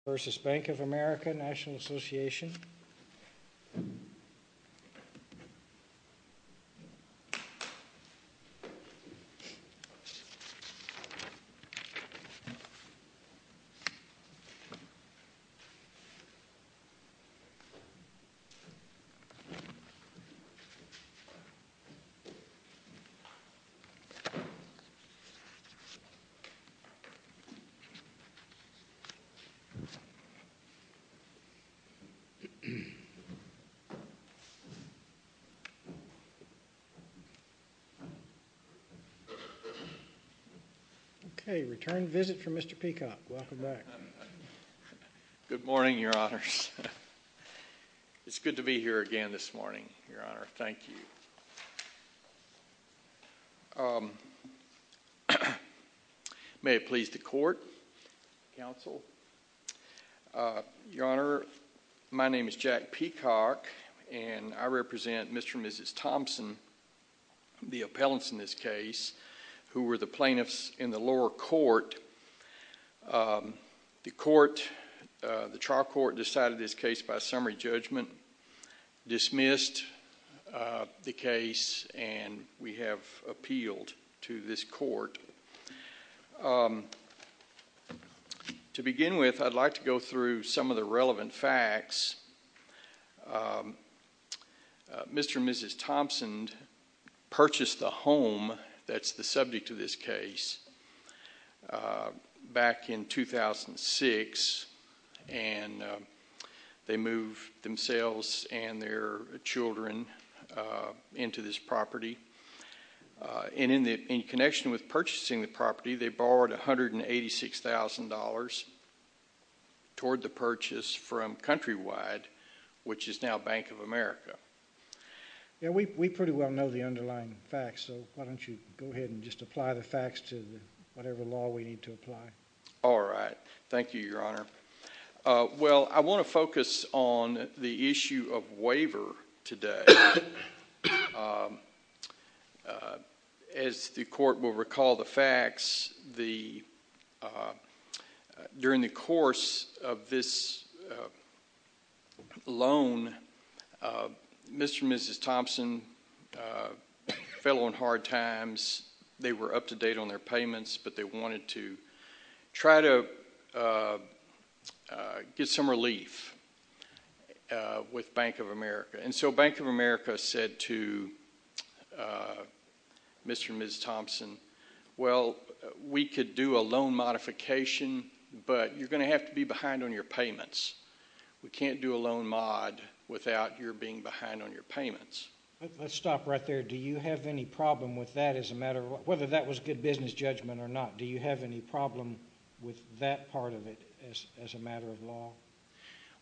al., et al., et al., et al., et al., et al., et al., et al., et al., et al., et al., brexit-burger girls and other things. Okay, return visit from Mr. Peacock. Welcome back. Good morning, your honors. It's good to be here again this morning, your honor. Thank you. May it please the court, counsel, your honor. My name is Jack Peacock and I represent Mr. and Mrs. Thompson, the appellants in this case who were the plaintiffs in the lower court. The court, the trial court decided this case by summary judgment, dismissed the case, and we have appealed to this court. To begin with, I'd like to go through some of the relevant facts. Mr. and Mrs. Thompson purchased the home that's the subject of this case back in 2006, and they moved themselves and their children into this property. In connection with purchasing the property, they borrowed $186,000 toward the purchase from Countrywide, which is now Bank of America. We pretty well know the underlying facts, so why don't you go ahead and just apply the facts to whatever law we need to apply. All right. Thank you, your honor. Well, I want to focus on the issue of waiver today. As the court will recall the facts, during the course of this loan, Mr. and Mrs. Thompson fell on hard times. They were up to date on their payments, but they wanted to try to get some relief with Bank of America. And so Bank of America said to Mr. and Mrs. Thompson, well, we could do a loan modification, but you're going to have to be behind on your payments. We can't do a loan mod without your being behind on your payments. Let's stop right there. Do you have any problem with that as a matter of whether that was good business judgment or not? Do you have any problem with that part of it as a matter of law?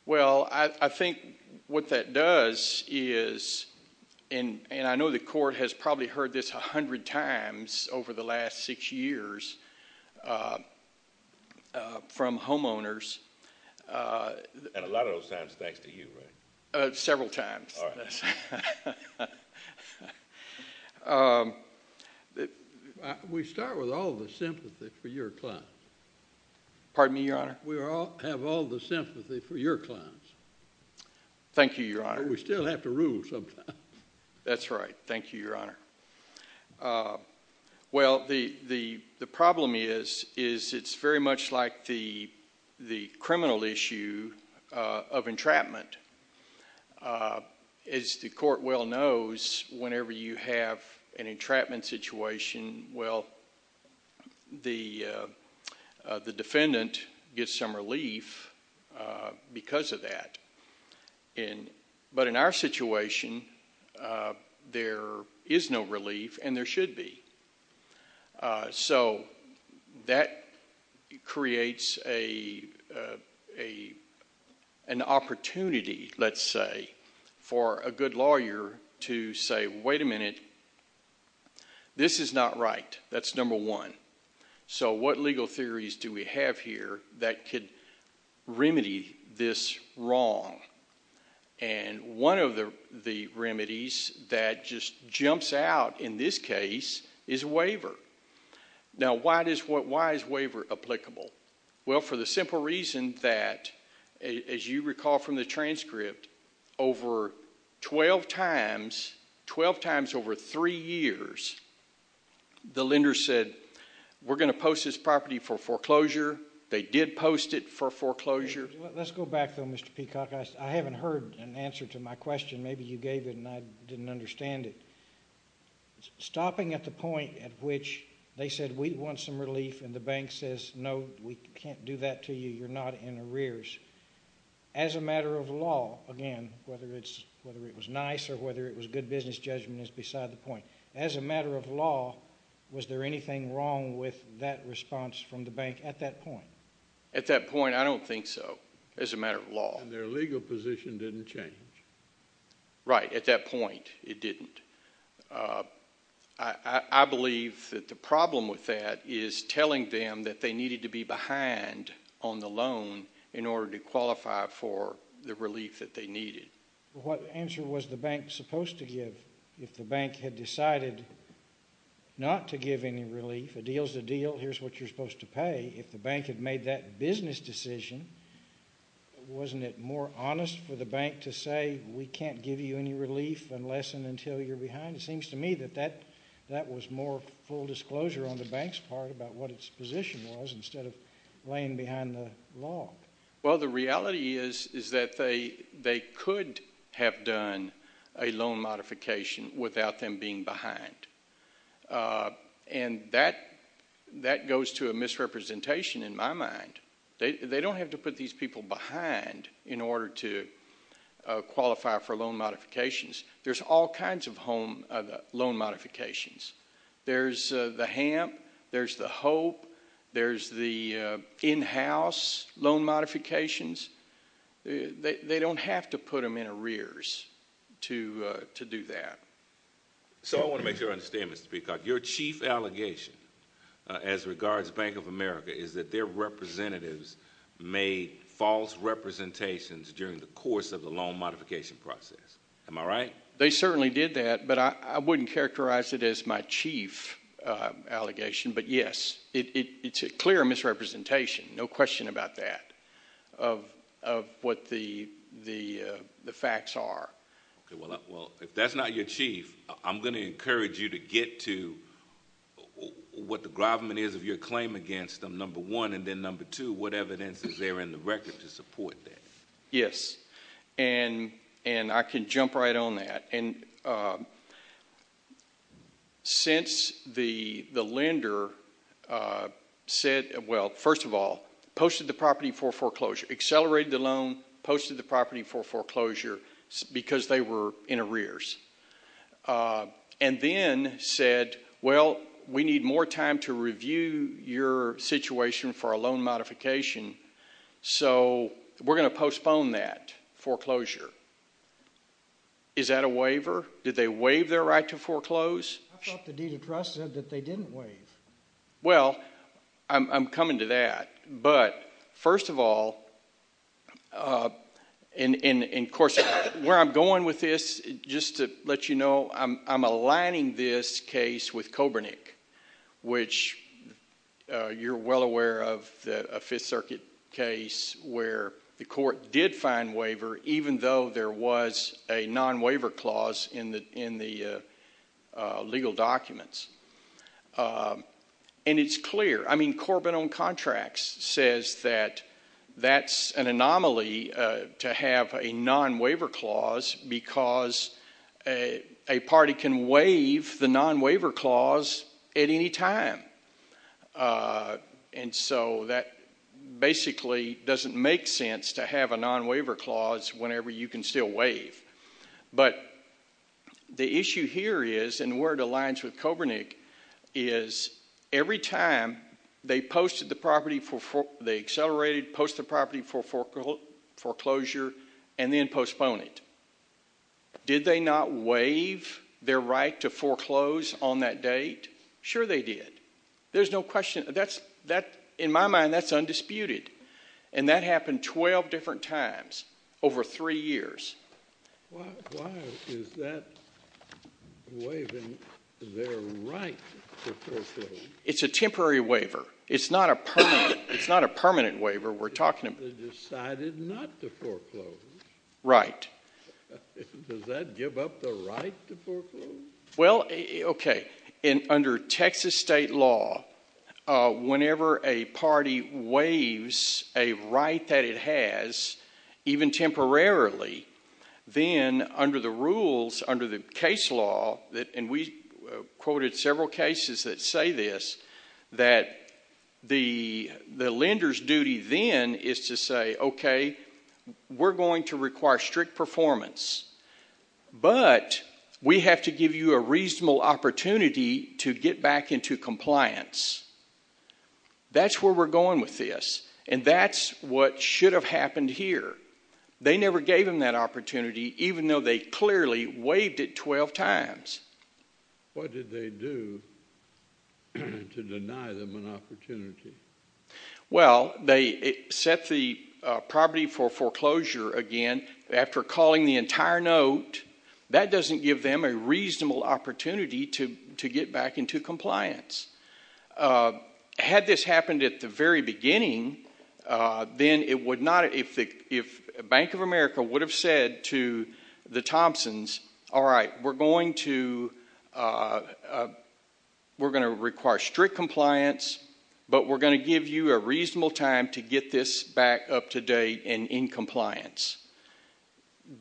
Well, I think what that does is, and I know the court has probably heard this a hundred times over the last six years from homeowners. And a lot of those times, thanks to you, right? Several times. We start with all the sympathy for your clients. Pardon me, your honor? We have all the sympathy for your clients. Thank you, your honor. But we still have to rule sometimes. That's right. Thank you, your honor. Well, the problem is, is it's very much like the criminal issue of entrapment. As the court well knows, whenever you have an entrapment situation, well, the defendant gets some relief because of that. But in our situation, there is no relief, and there should be. So that creates an opportunity, let's say, for a good lawyer to say, wait a minute, this is not right. That's number one. So what legal theories do we have here that could remedy this wrong? And one of the remedies that just jumps out in this case is a waiver. Now, why is waiver applicable? Well, for the simple reason that, as you recall from the transcript, over 12 times, 12 times over three years, the lender said, we're going to post this property for foreclosure. They did post it for foreclosure. Let's go back, though, Mr. Peacock. I haven't heard an answer to my question. Maybe you gave it, and I didn't understand it. Stopping at the point at which they said, we want some relief, and the bank says, no, we can't do that to you, you're not in arrears. As a matter of law, again, whether it was nice or whether it was good business judgment is beside the point. As a matter of law, was there anything wrong with that response from the bank at that point? At that point, I don't think so. As a matter of law. And their legal position didn't change. Right. At that point, it didn't. I believe that the problem with that is telling them that they needed to be behind on the loan in order to qualify for the relief that they needed. What answer was the bank supposed to give if the bank had decided not to give any relief? A deal's a deal. Here's what you're supposed to pay. If the bank had made that business decision, wasn't it more honest for the bank to say, we can't give you any relief unless and until you're behind? It seems to me that that was more full disclosure on the bank's part about what its position was instead of laying behind the law. Well, the reality is that they could have done a loan modification without them being behind. And that goes to a misrepresentation in my mind. They don't have to put these people behind in order to qualify for loan modifications. There's all kinds of loan modifications. There's the HAMP, there's the HOPE, there's the in-house loan modifications. They don't have to put them in arrears to do that. So I want to make sure I understand, Mr. Peacock. Your chief allegation as regards Bank of America is that their representatives made false representations during the course of the loan modification process. Am I right? They certainly did that, but I wouldn't characterize it as my chief allegation. But yes, it's a clear misrepresentation, no question about that, of what the facts are. Well, if that's not your chief, I'm going to encourage you to get to what the government is of your claim against them, number one. And then number two, what evidence is there in the record to support that? Yes. And I can jump right on that. Since the lender said, well, first of all, posted the property for foreclosure, accelerated the loan, posted the property for foreclosure, because they were in arrears. And then said, well, we need more time to review your situation for a loan modification, so we're going to postpone that foreclosure. Is that a waiver? Did they waive their right to foreclose? I thought the deed of trust said that they didn't waive. Well, I'm coming to that. But first of all, and of course, where I'm going with this, just to let you know, I'm aligning this case with Kobernik, which you're well aware of, a Fifth Circuit case where the court did find waiver, even though there was a non-waiver clause in the legal documents. And it's clear. I mean, Corbin on Contracts says that that's an anomaly to have a non-waiver clause because a party can waive the non-waiver clause at any time. And so that basically doesn't make sense to have a non-waiver clause whenever you can still waive. But the issue here is, and where it aligns with Kobernik, is every time they accelerated, posted the property for foreclosure, and then postponed it, did they not waive their right to foreclose on that date? Sure they did. There's no question. In my mind, that's undisputed. And that happened 12 different times over three years. Why is that waiving their right to foreclose? It's a temporary waiver. It's not a permanent waiver. We're talking about... They decided not to foreclose. Right. Does that give up the right to foreclose? Well, okay. Under Texas state law, whenever a party waives a right that it has, even temporarily, then under the rules, under the case law, and we quoted several cases that say this, that the lender's duty then is to say, okay, we're going to require strict performance, but we have to give you a reasonable opportunity to get back into compliance. That's where we're going with this. And that's what should have happened here. They never gave them that opportunity, even though they clearly waived it 12 times. What did they do to deny them an opportunity? Well, they set the property for foreclosure again after calling the entire note. That doesn't give them a reasonable opportunity to get back into compliance. Had this happened at the very beginning, then it would not... If Bank of America would have said to the Thompsons, all right, we're going to require strict compliance, but we're going to give you a reasonable time to get this back up to date and in compliance.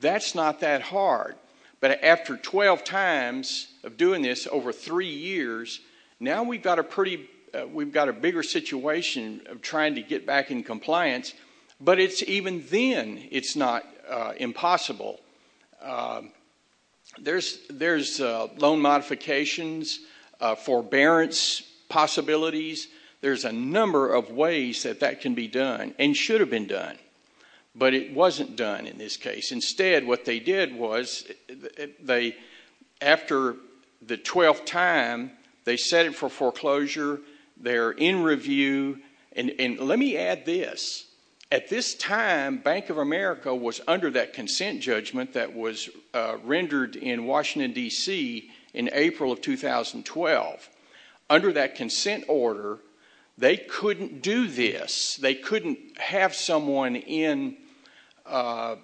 That's not that hard, but after 12 times of doing this over three years, now we've got a bigger situation of trying to get back in compliance, but it's even then it's not impossible. There's loan modifications, forbearance possibilities. There's a number of ways that that can be done and should have been done, but it wasn't done in this case. Instead, what they did was, after the 12th time, they set it for foreclosure. They're in review. Let me add this. At this time, Bank of America was under that consent judgment that was rendered in Washington, D.C. in April of 2012. Under that consent order, they couldn't do this. They couldn't have someone in a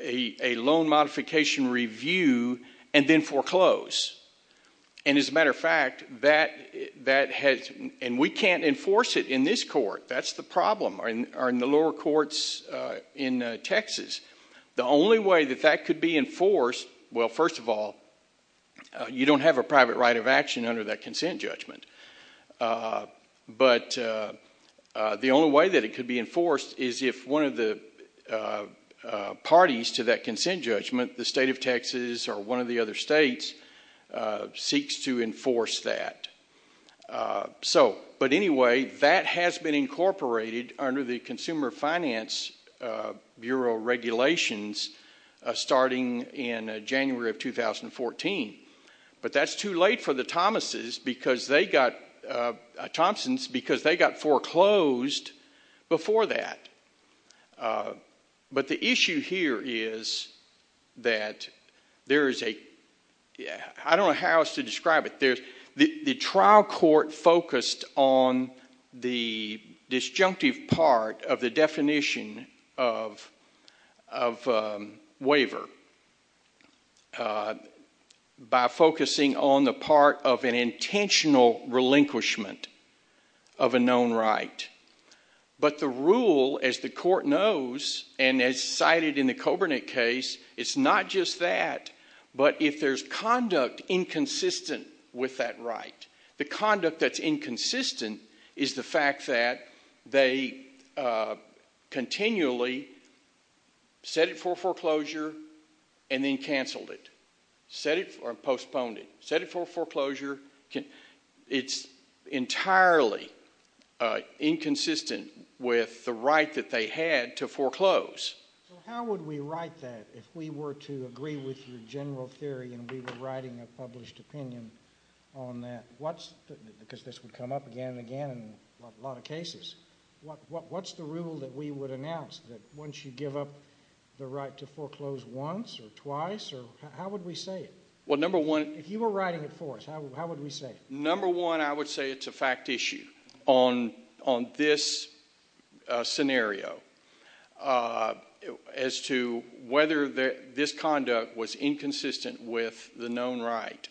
loan modification review and then foreclose. As a matter of fact, that has... We can't enforce it in this court. That's the problem, or in the lower courts in Texas. The only way that that could be enforced, well, first of all, you don't have a private right of action under that consent judgment. The only way that it could be enforced is if one of the parties to that consent judgment, the state of Texas or one of the other states, seeks to enforce that. But anyway, that has been incorporated under the Consumer Finance Bureau regulations starting in January of 2014. But that's too late for the Thompsons because they got foreclosed before that. But the issue here is that there is a... I don't know how else to describe it. The trial court focused on the disjunctive part of the definition of waiver by focusing on the part of an intentional relinquishment of a known right. But the rule, as the court knows, and as cited in the Kobernik case, it's not just that. But if there's conduct inconsistent with that right, the conduct that's inconsistent is the fact that they continually set it for foreclosure and then canceled it, or postponed it. Set it for foreclosure. It's entirely inconsistent with the right that they had to foreclose. So how would we write that if we were to agree with your general theory and we were writing a published opinion on that? What's... Because this would come up again and again in a lot of cases. What's the rule that we would announce that once you give up the right to foreclose once or twice or... How would we say it? Well, number one... If you were writing it for us, how would we say it? Number one, I would say it's a fact issue on this scenario as to whether this conduct was inconsistent with the known right.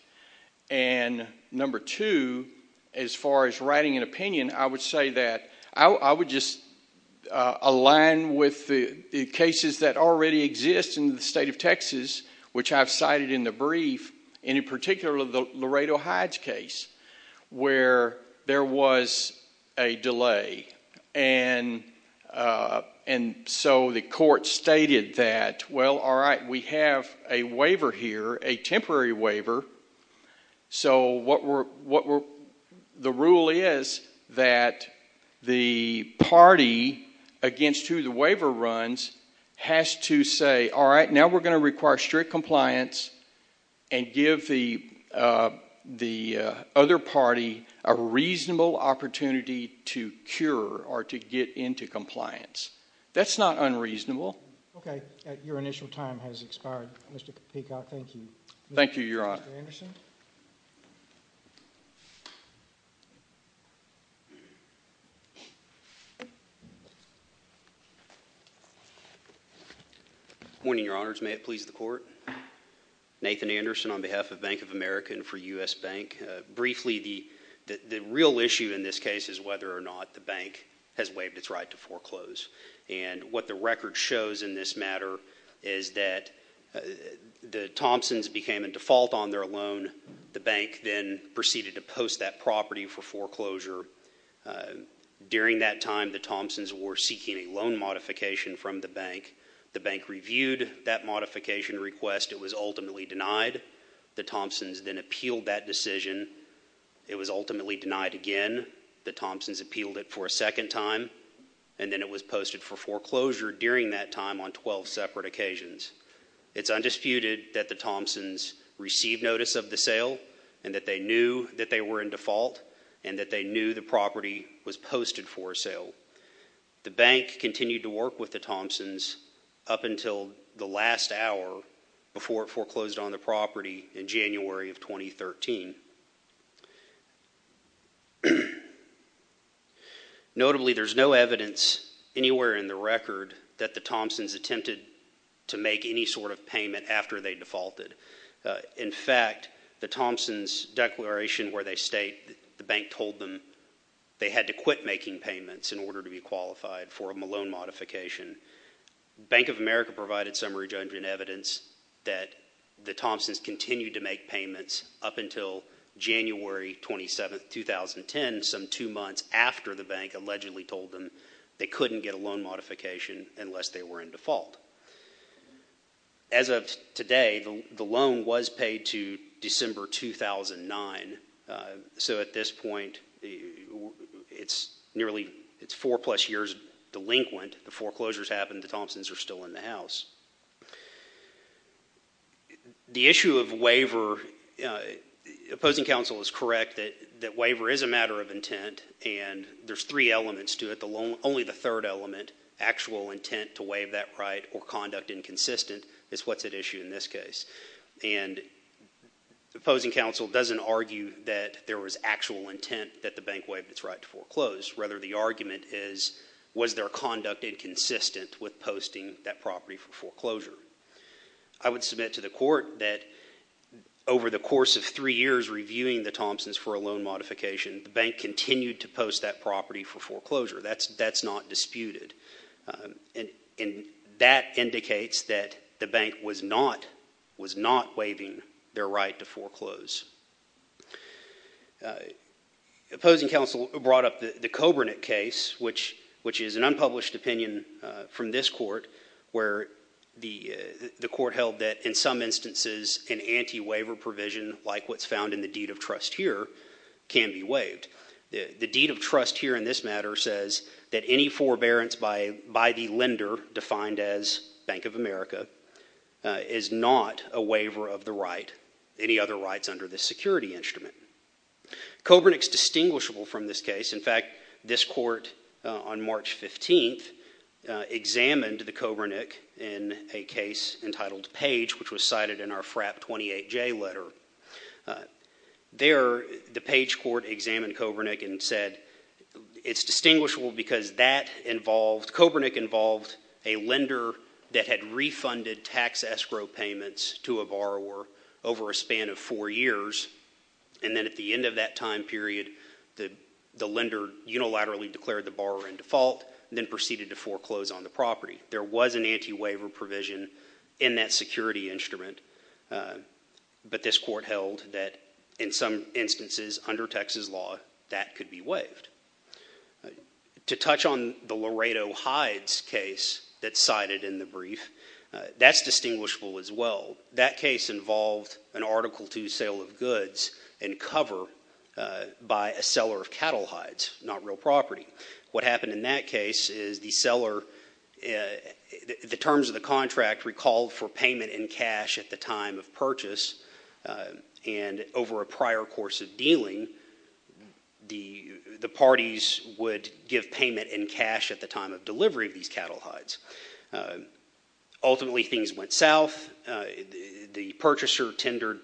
And number two, as far as writing an opinion, I would say that... I would just align with the cases that already exist in the state of Texas, which I've cited in the brief, and in particular the Laredo Hides case, where there was a delay. And so the court stated that, well, all right, we have a waiver here, a temporary waiver. So what we're... The rule is that the party against who the waiver runs has to say, all right, now we're going to require strict compliance and give the other party a reasonable opportunity to cure or to get into compliance. That's not unreasonable. Okay. Your initial time has expired, Mr. Capicot. Thank you. Thank you, Your Honor. Mr. Anderson? Good morning, Your Honors. May it please the Court? Nathan Anderson on behalf of Bank of America and for U.S. Bank. Briefly, the real issue in this case is whether or not the bank has waived its right to foreclose. And what the record shows in this matter is that the Thompsons became a default on their loan. The bank then proceeded to post that property for foreclosure. During that time, the Thompsons were seeking a loan modification from the bank. The bank reviewed that modification request. It was ultimately denied. The Thompsons then appealed that decision. It was ultimately denied again. The Thompsons appealed it for a second time. And then it was posted for foreclosure during that time on 12 separate occasions. It's undisputed that the Thompsons received notice of the sale and that they knew that they were in default and that they knew the property was posted for sale. The bank continued to work with the Thompsons up until the last hour before it foreclosed on the property in January of 2013. Notably, there's no evidence anywhere in the record that the Thompsons attempted to make any sort of payment after they defaulted. In fact, the Thompsons' declaration where they state that the bank told them they had to quit making payments in order to be qualified for a loan modification, Bank of America provided summary judgment evidence that the Thompsons continued to make payments up until January 27, 2010, some two months after the bank allegedly told them they couldn't get a loan modification unless they were in default. As of today, the loan was paid to December 2009. So at this point, it's nearly four-plus years delinquent. The foreclosures happened. The Thompsons are still in the house. The issue of waiver, opposing counsel is correct that waiver is a matter of intent and there's three elements to it. Only the third element, actual intent to waive that right or conduct inconsistent, is what's at issue in this case. Opposing counsel doesn't argue that there was actual intent that the bank waived its right to foreclose. Rather, the argument is, was their conduct inconsistent with posting that property for foreclosure? I would submit to the court that over the course of three years reviewing the Thompsons for a loan modification, the bank continued to post that property for foreclosure. That's not disputed. That indicates that the bank was not waiving their right to foreclose. Opposing counsel brought up the Kobernik case, which is an unpublished opinion from this court where the court held that in some instances, an anti-waiver provision like what's found in the deed of trust here can be waived. The deed of trust here in this matter says that any forbearance by the lender, defined as Bank of America, is not a waiver of the right, any other rights under this security instrument. Kobernik is distinguishable from this case. In fact, this court on March 15th examined the Kobernik in a case entitled Page, which was cited in our FRAP 28J letter. There the Page court examined Kobernik and said it's distinguishable because that involved, Kobernik involved a lender that had refunded tax escrow payments to a borrower over a span of four years, and then at the end of that time period, the lender unilaterally declared the borrower in default, then proceeded to foreclose on the property. There was an anti-waiver provision in that security instrument, but this court held that in some instances, under Texas law, that could be waived. To touch on the Laredo Hides case that's cited in the brief, that's distinguishable as well. That case involved an Article II sale of goods and cover by a seller of cattle hides, not real property. What happened in that case is the seller, the terms of the contract recalled for payment in cash at the time of purchase, and over a prior course of dealing, the parties would give payment in cash at the time of delivery of these cattle hides. Ultimately things went south. The purchaser tendered,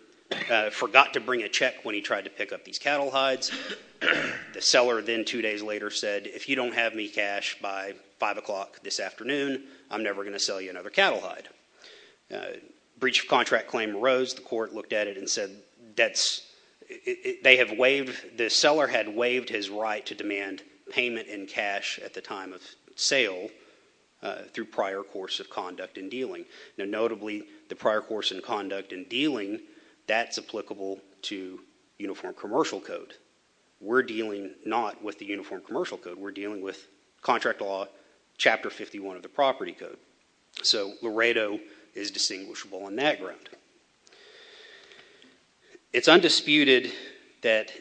forgot to bring a check when he tried to pick up these cattle hides. The seller then two days later said, if you don't have me cash by 5 o'clock this afternoon, I'm never going to sell you another cattle hide. Breach of contract claim arose, the court looked at it and said, the seller had waived his right to demand payment in cash at the time of sale through prior course of conduct and dealing. Now notably, the prior course of conduct and dealing, that's applicable to Uniform Commercial Code. We're dealing not with the Uniform Commercial Code. We're dealing with Contract Law Chapter 51 of the Property Code. So Laredo is distinguishable on that ground. It's undisputed that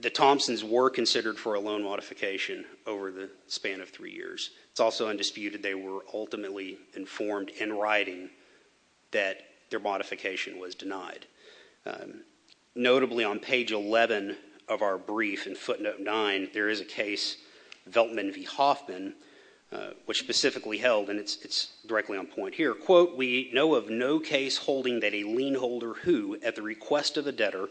the Thompsons were considered for a loan modification over the span of three years. It's also undisputed they were ultimately informed in writing that their modification was denied. Notably, on page 11 of our brief in footnote 9, there is a case, Veltman v. Hoffman, which specifically held, and it's directly on point here, quote, we know of no case holding that a lien holder who, at the request of the debtor,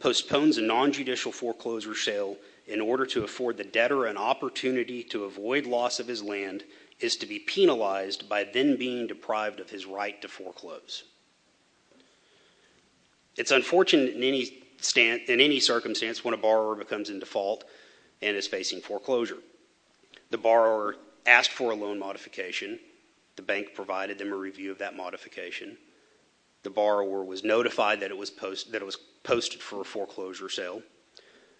postpones a nonjudicial foreclosure sale in order to afford the debtor an opportunity to avoid loss of his land is to be penalized by then being deprived of his right to foreclose. It's unfortunate in any circumstance when a borrower becomes in default and is facing foreclosure. The borrower asked for a loan modification. The bank provided them a review of that modification. The borrower was notified that it was posted for a foreclosure sale,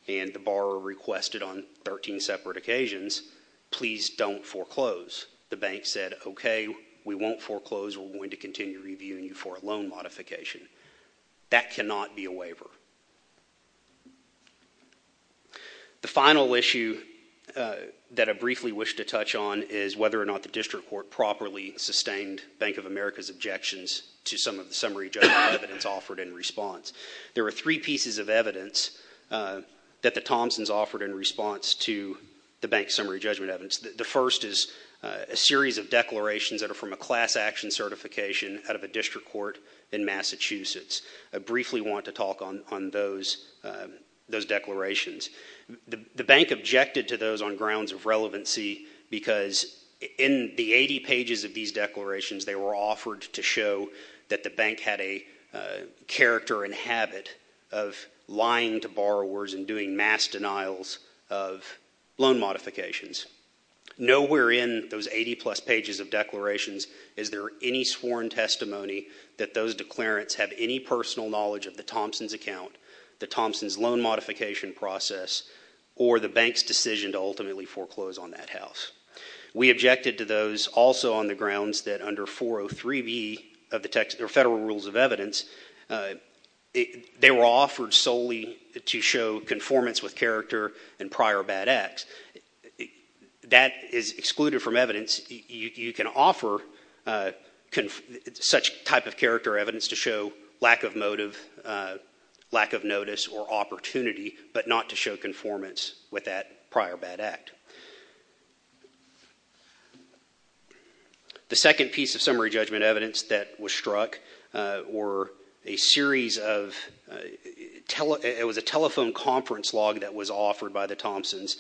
and the borrower requested on 13 separate occasions, please don't foreclose. The bank said, okay, we won't foreclose. We're going to continue reviewing you for a loan modification. That cannot be a waiver. The final issue that I briefly wish to touch on is whether or not the district court properly sustained Bank of America's objections to some of the summary judgment evidence offered in response. There are three pieces of evidence that the Thompsons offered in response to the bank's summary judgment evidence. The first is a series of declarations that are from a class action certification out of a district court in Massachusetts. I briefly want to talk on those declarations. The bank objected to those on grounds of relevancy because in the 80 pages of these declarations they were offered to show that the bank had a character and habit of lying to borrowers and doing mass denials of loan modifications. Nowhere in those 80 plus pages of declarations is there any sworn testimony that those declarants have any personal knowledge of the Thompsons' account, the Thompsons' loan modification process, or the bank's decision to ultimately foreclose on that house. We objected to those also on the grounds that under 403B of the Federal Rules of Evidence, they were offered solely to show conformance with character and prior bad acts. That is excluded from evidence. You can offer such type of character evidence to show lack of motive, lack of notice, or opportunity, but not to show conformance with that prior bad act. The second piece of summary judgment evidence that was struck was a telephone conference log that was offered by the Thompsons.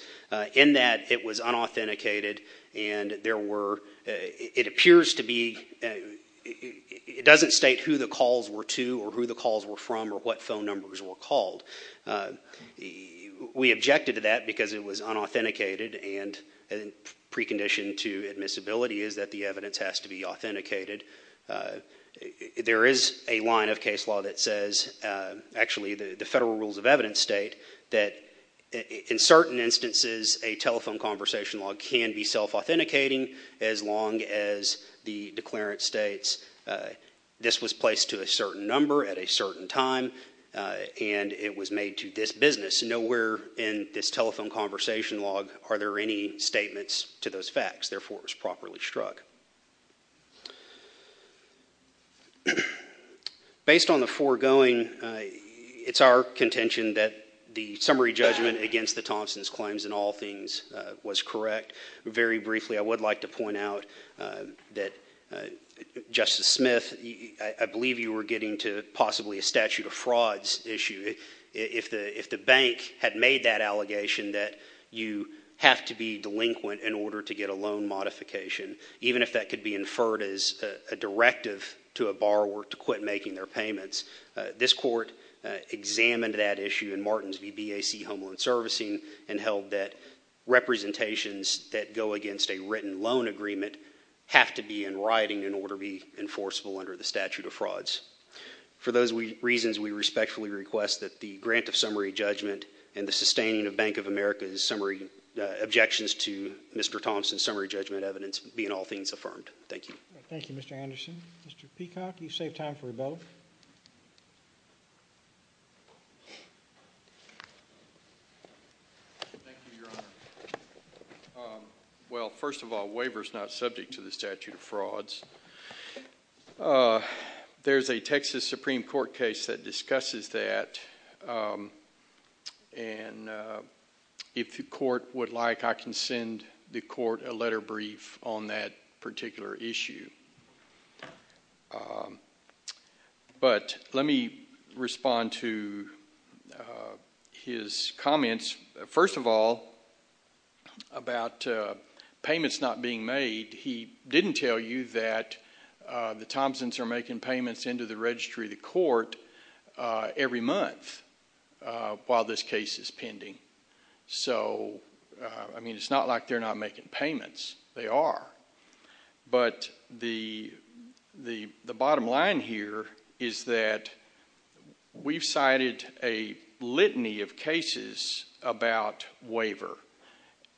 In that, it was unauthenticated and it doesn't state who the calls were to or who the calls were from or what phone numbers were called. We objected to that because it was unauthenticated and a precondition to admissibility is that the evidence has to be authenticated. There is a line of case law that says, actually the Federal Rules of Evidence state that in certain instances, a telephone conversation log can be self-authenticating as long as the declarant states this was placed to a certain number at a certain time and it was made to this business. Nowhere in this telephone conversation log are there any statements to those facts, therefore it was properly struck. Based on the foregoing, it's our contention that the summary judgment against the Thompsons claims in all things was correct. Very briefly, I would like to point out that Justice Smith, I believe you were getting to possibly a statute of frauds issue. If the bank had made that allegation that you have to be delinquent in order to get a loan modification, even if that could be inferred as a directive to a borrower to quit making their payments, this court examined that issue in Martin's VBAC Home Loan Servicing and held that representations that go against a written loan agreement have to be in writing in order to be enforceable under the statute of frauds. For those reasons, we respectfully request that the grant of summary judgment and the sustaining of Bank of America's objections to Mr. Thompson's summary judgment evidence be in all things affirmed. Thank you. Thank you, Mr. Anderson. Mr. Peacock, you saved time for both. Thank you, Your Honor. Well, first of all, waiver is not subject to the statute of frauds. There's a Texas Supreme Court case that discusses that, and if the court would like, I can send the court a letter brief on that particular issue. But let me respond to his comments. First of all, about payments not being made, he didn't tell you that the Thompsons are making payments into the registry of the court every month while this case is pending. So I mean, it's not like they're not making payments. They are. But the bottom line here is that we've cited a litany of cases about waiver,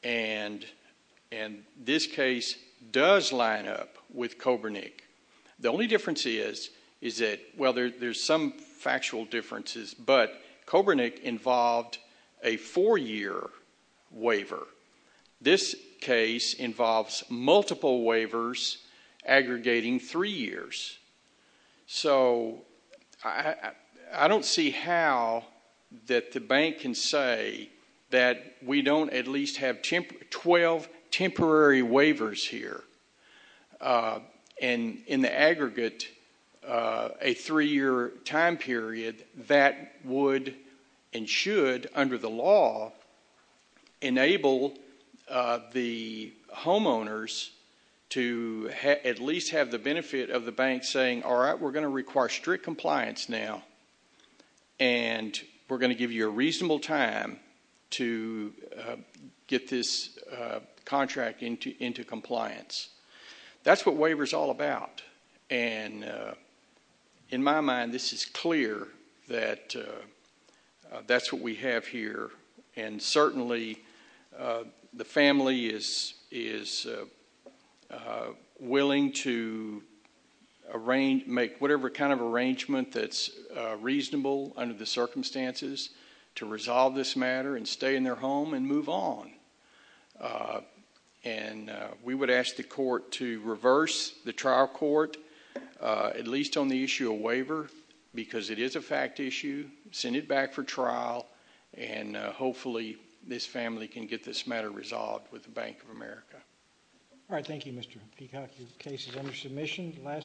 and this case does line up with Coburnick. The only difference is that, well, there's some factual differences, but Coburnick involved a four-year waiver. This case involves multiple waivers aggregating three years. So I don't see how that the bank can say that we don't at least have 12 temporary waivers here, and in the aggregate, a three-year time period that would and should, under the law, enable the homeowners to at least have the benefit of the bank saying, all right, we're going to require strict compliance now, and we're going to give you a reasonable time to get this contract into compliance. That's what waiver's all about, and in my mind, this is clear that that's what we have here and certainly the family is willing to make whatever kind of arrangement that's reasonable under the circumstances to resolve this matter and stay in their home and move on. And we would ask the court to reverse the trial court, at least on the issue of waiver, because it is a fact issue, send it back for trial, and hopefully this family can get this matter resolved with the Bank of America. All right. Thank you, Mr. Peacock. Your case is under submission.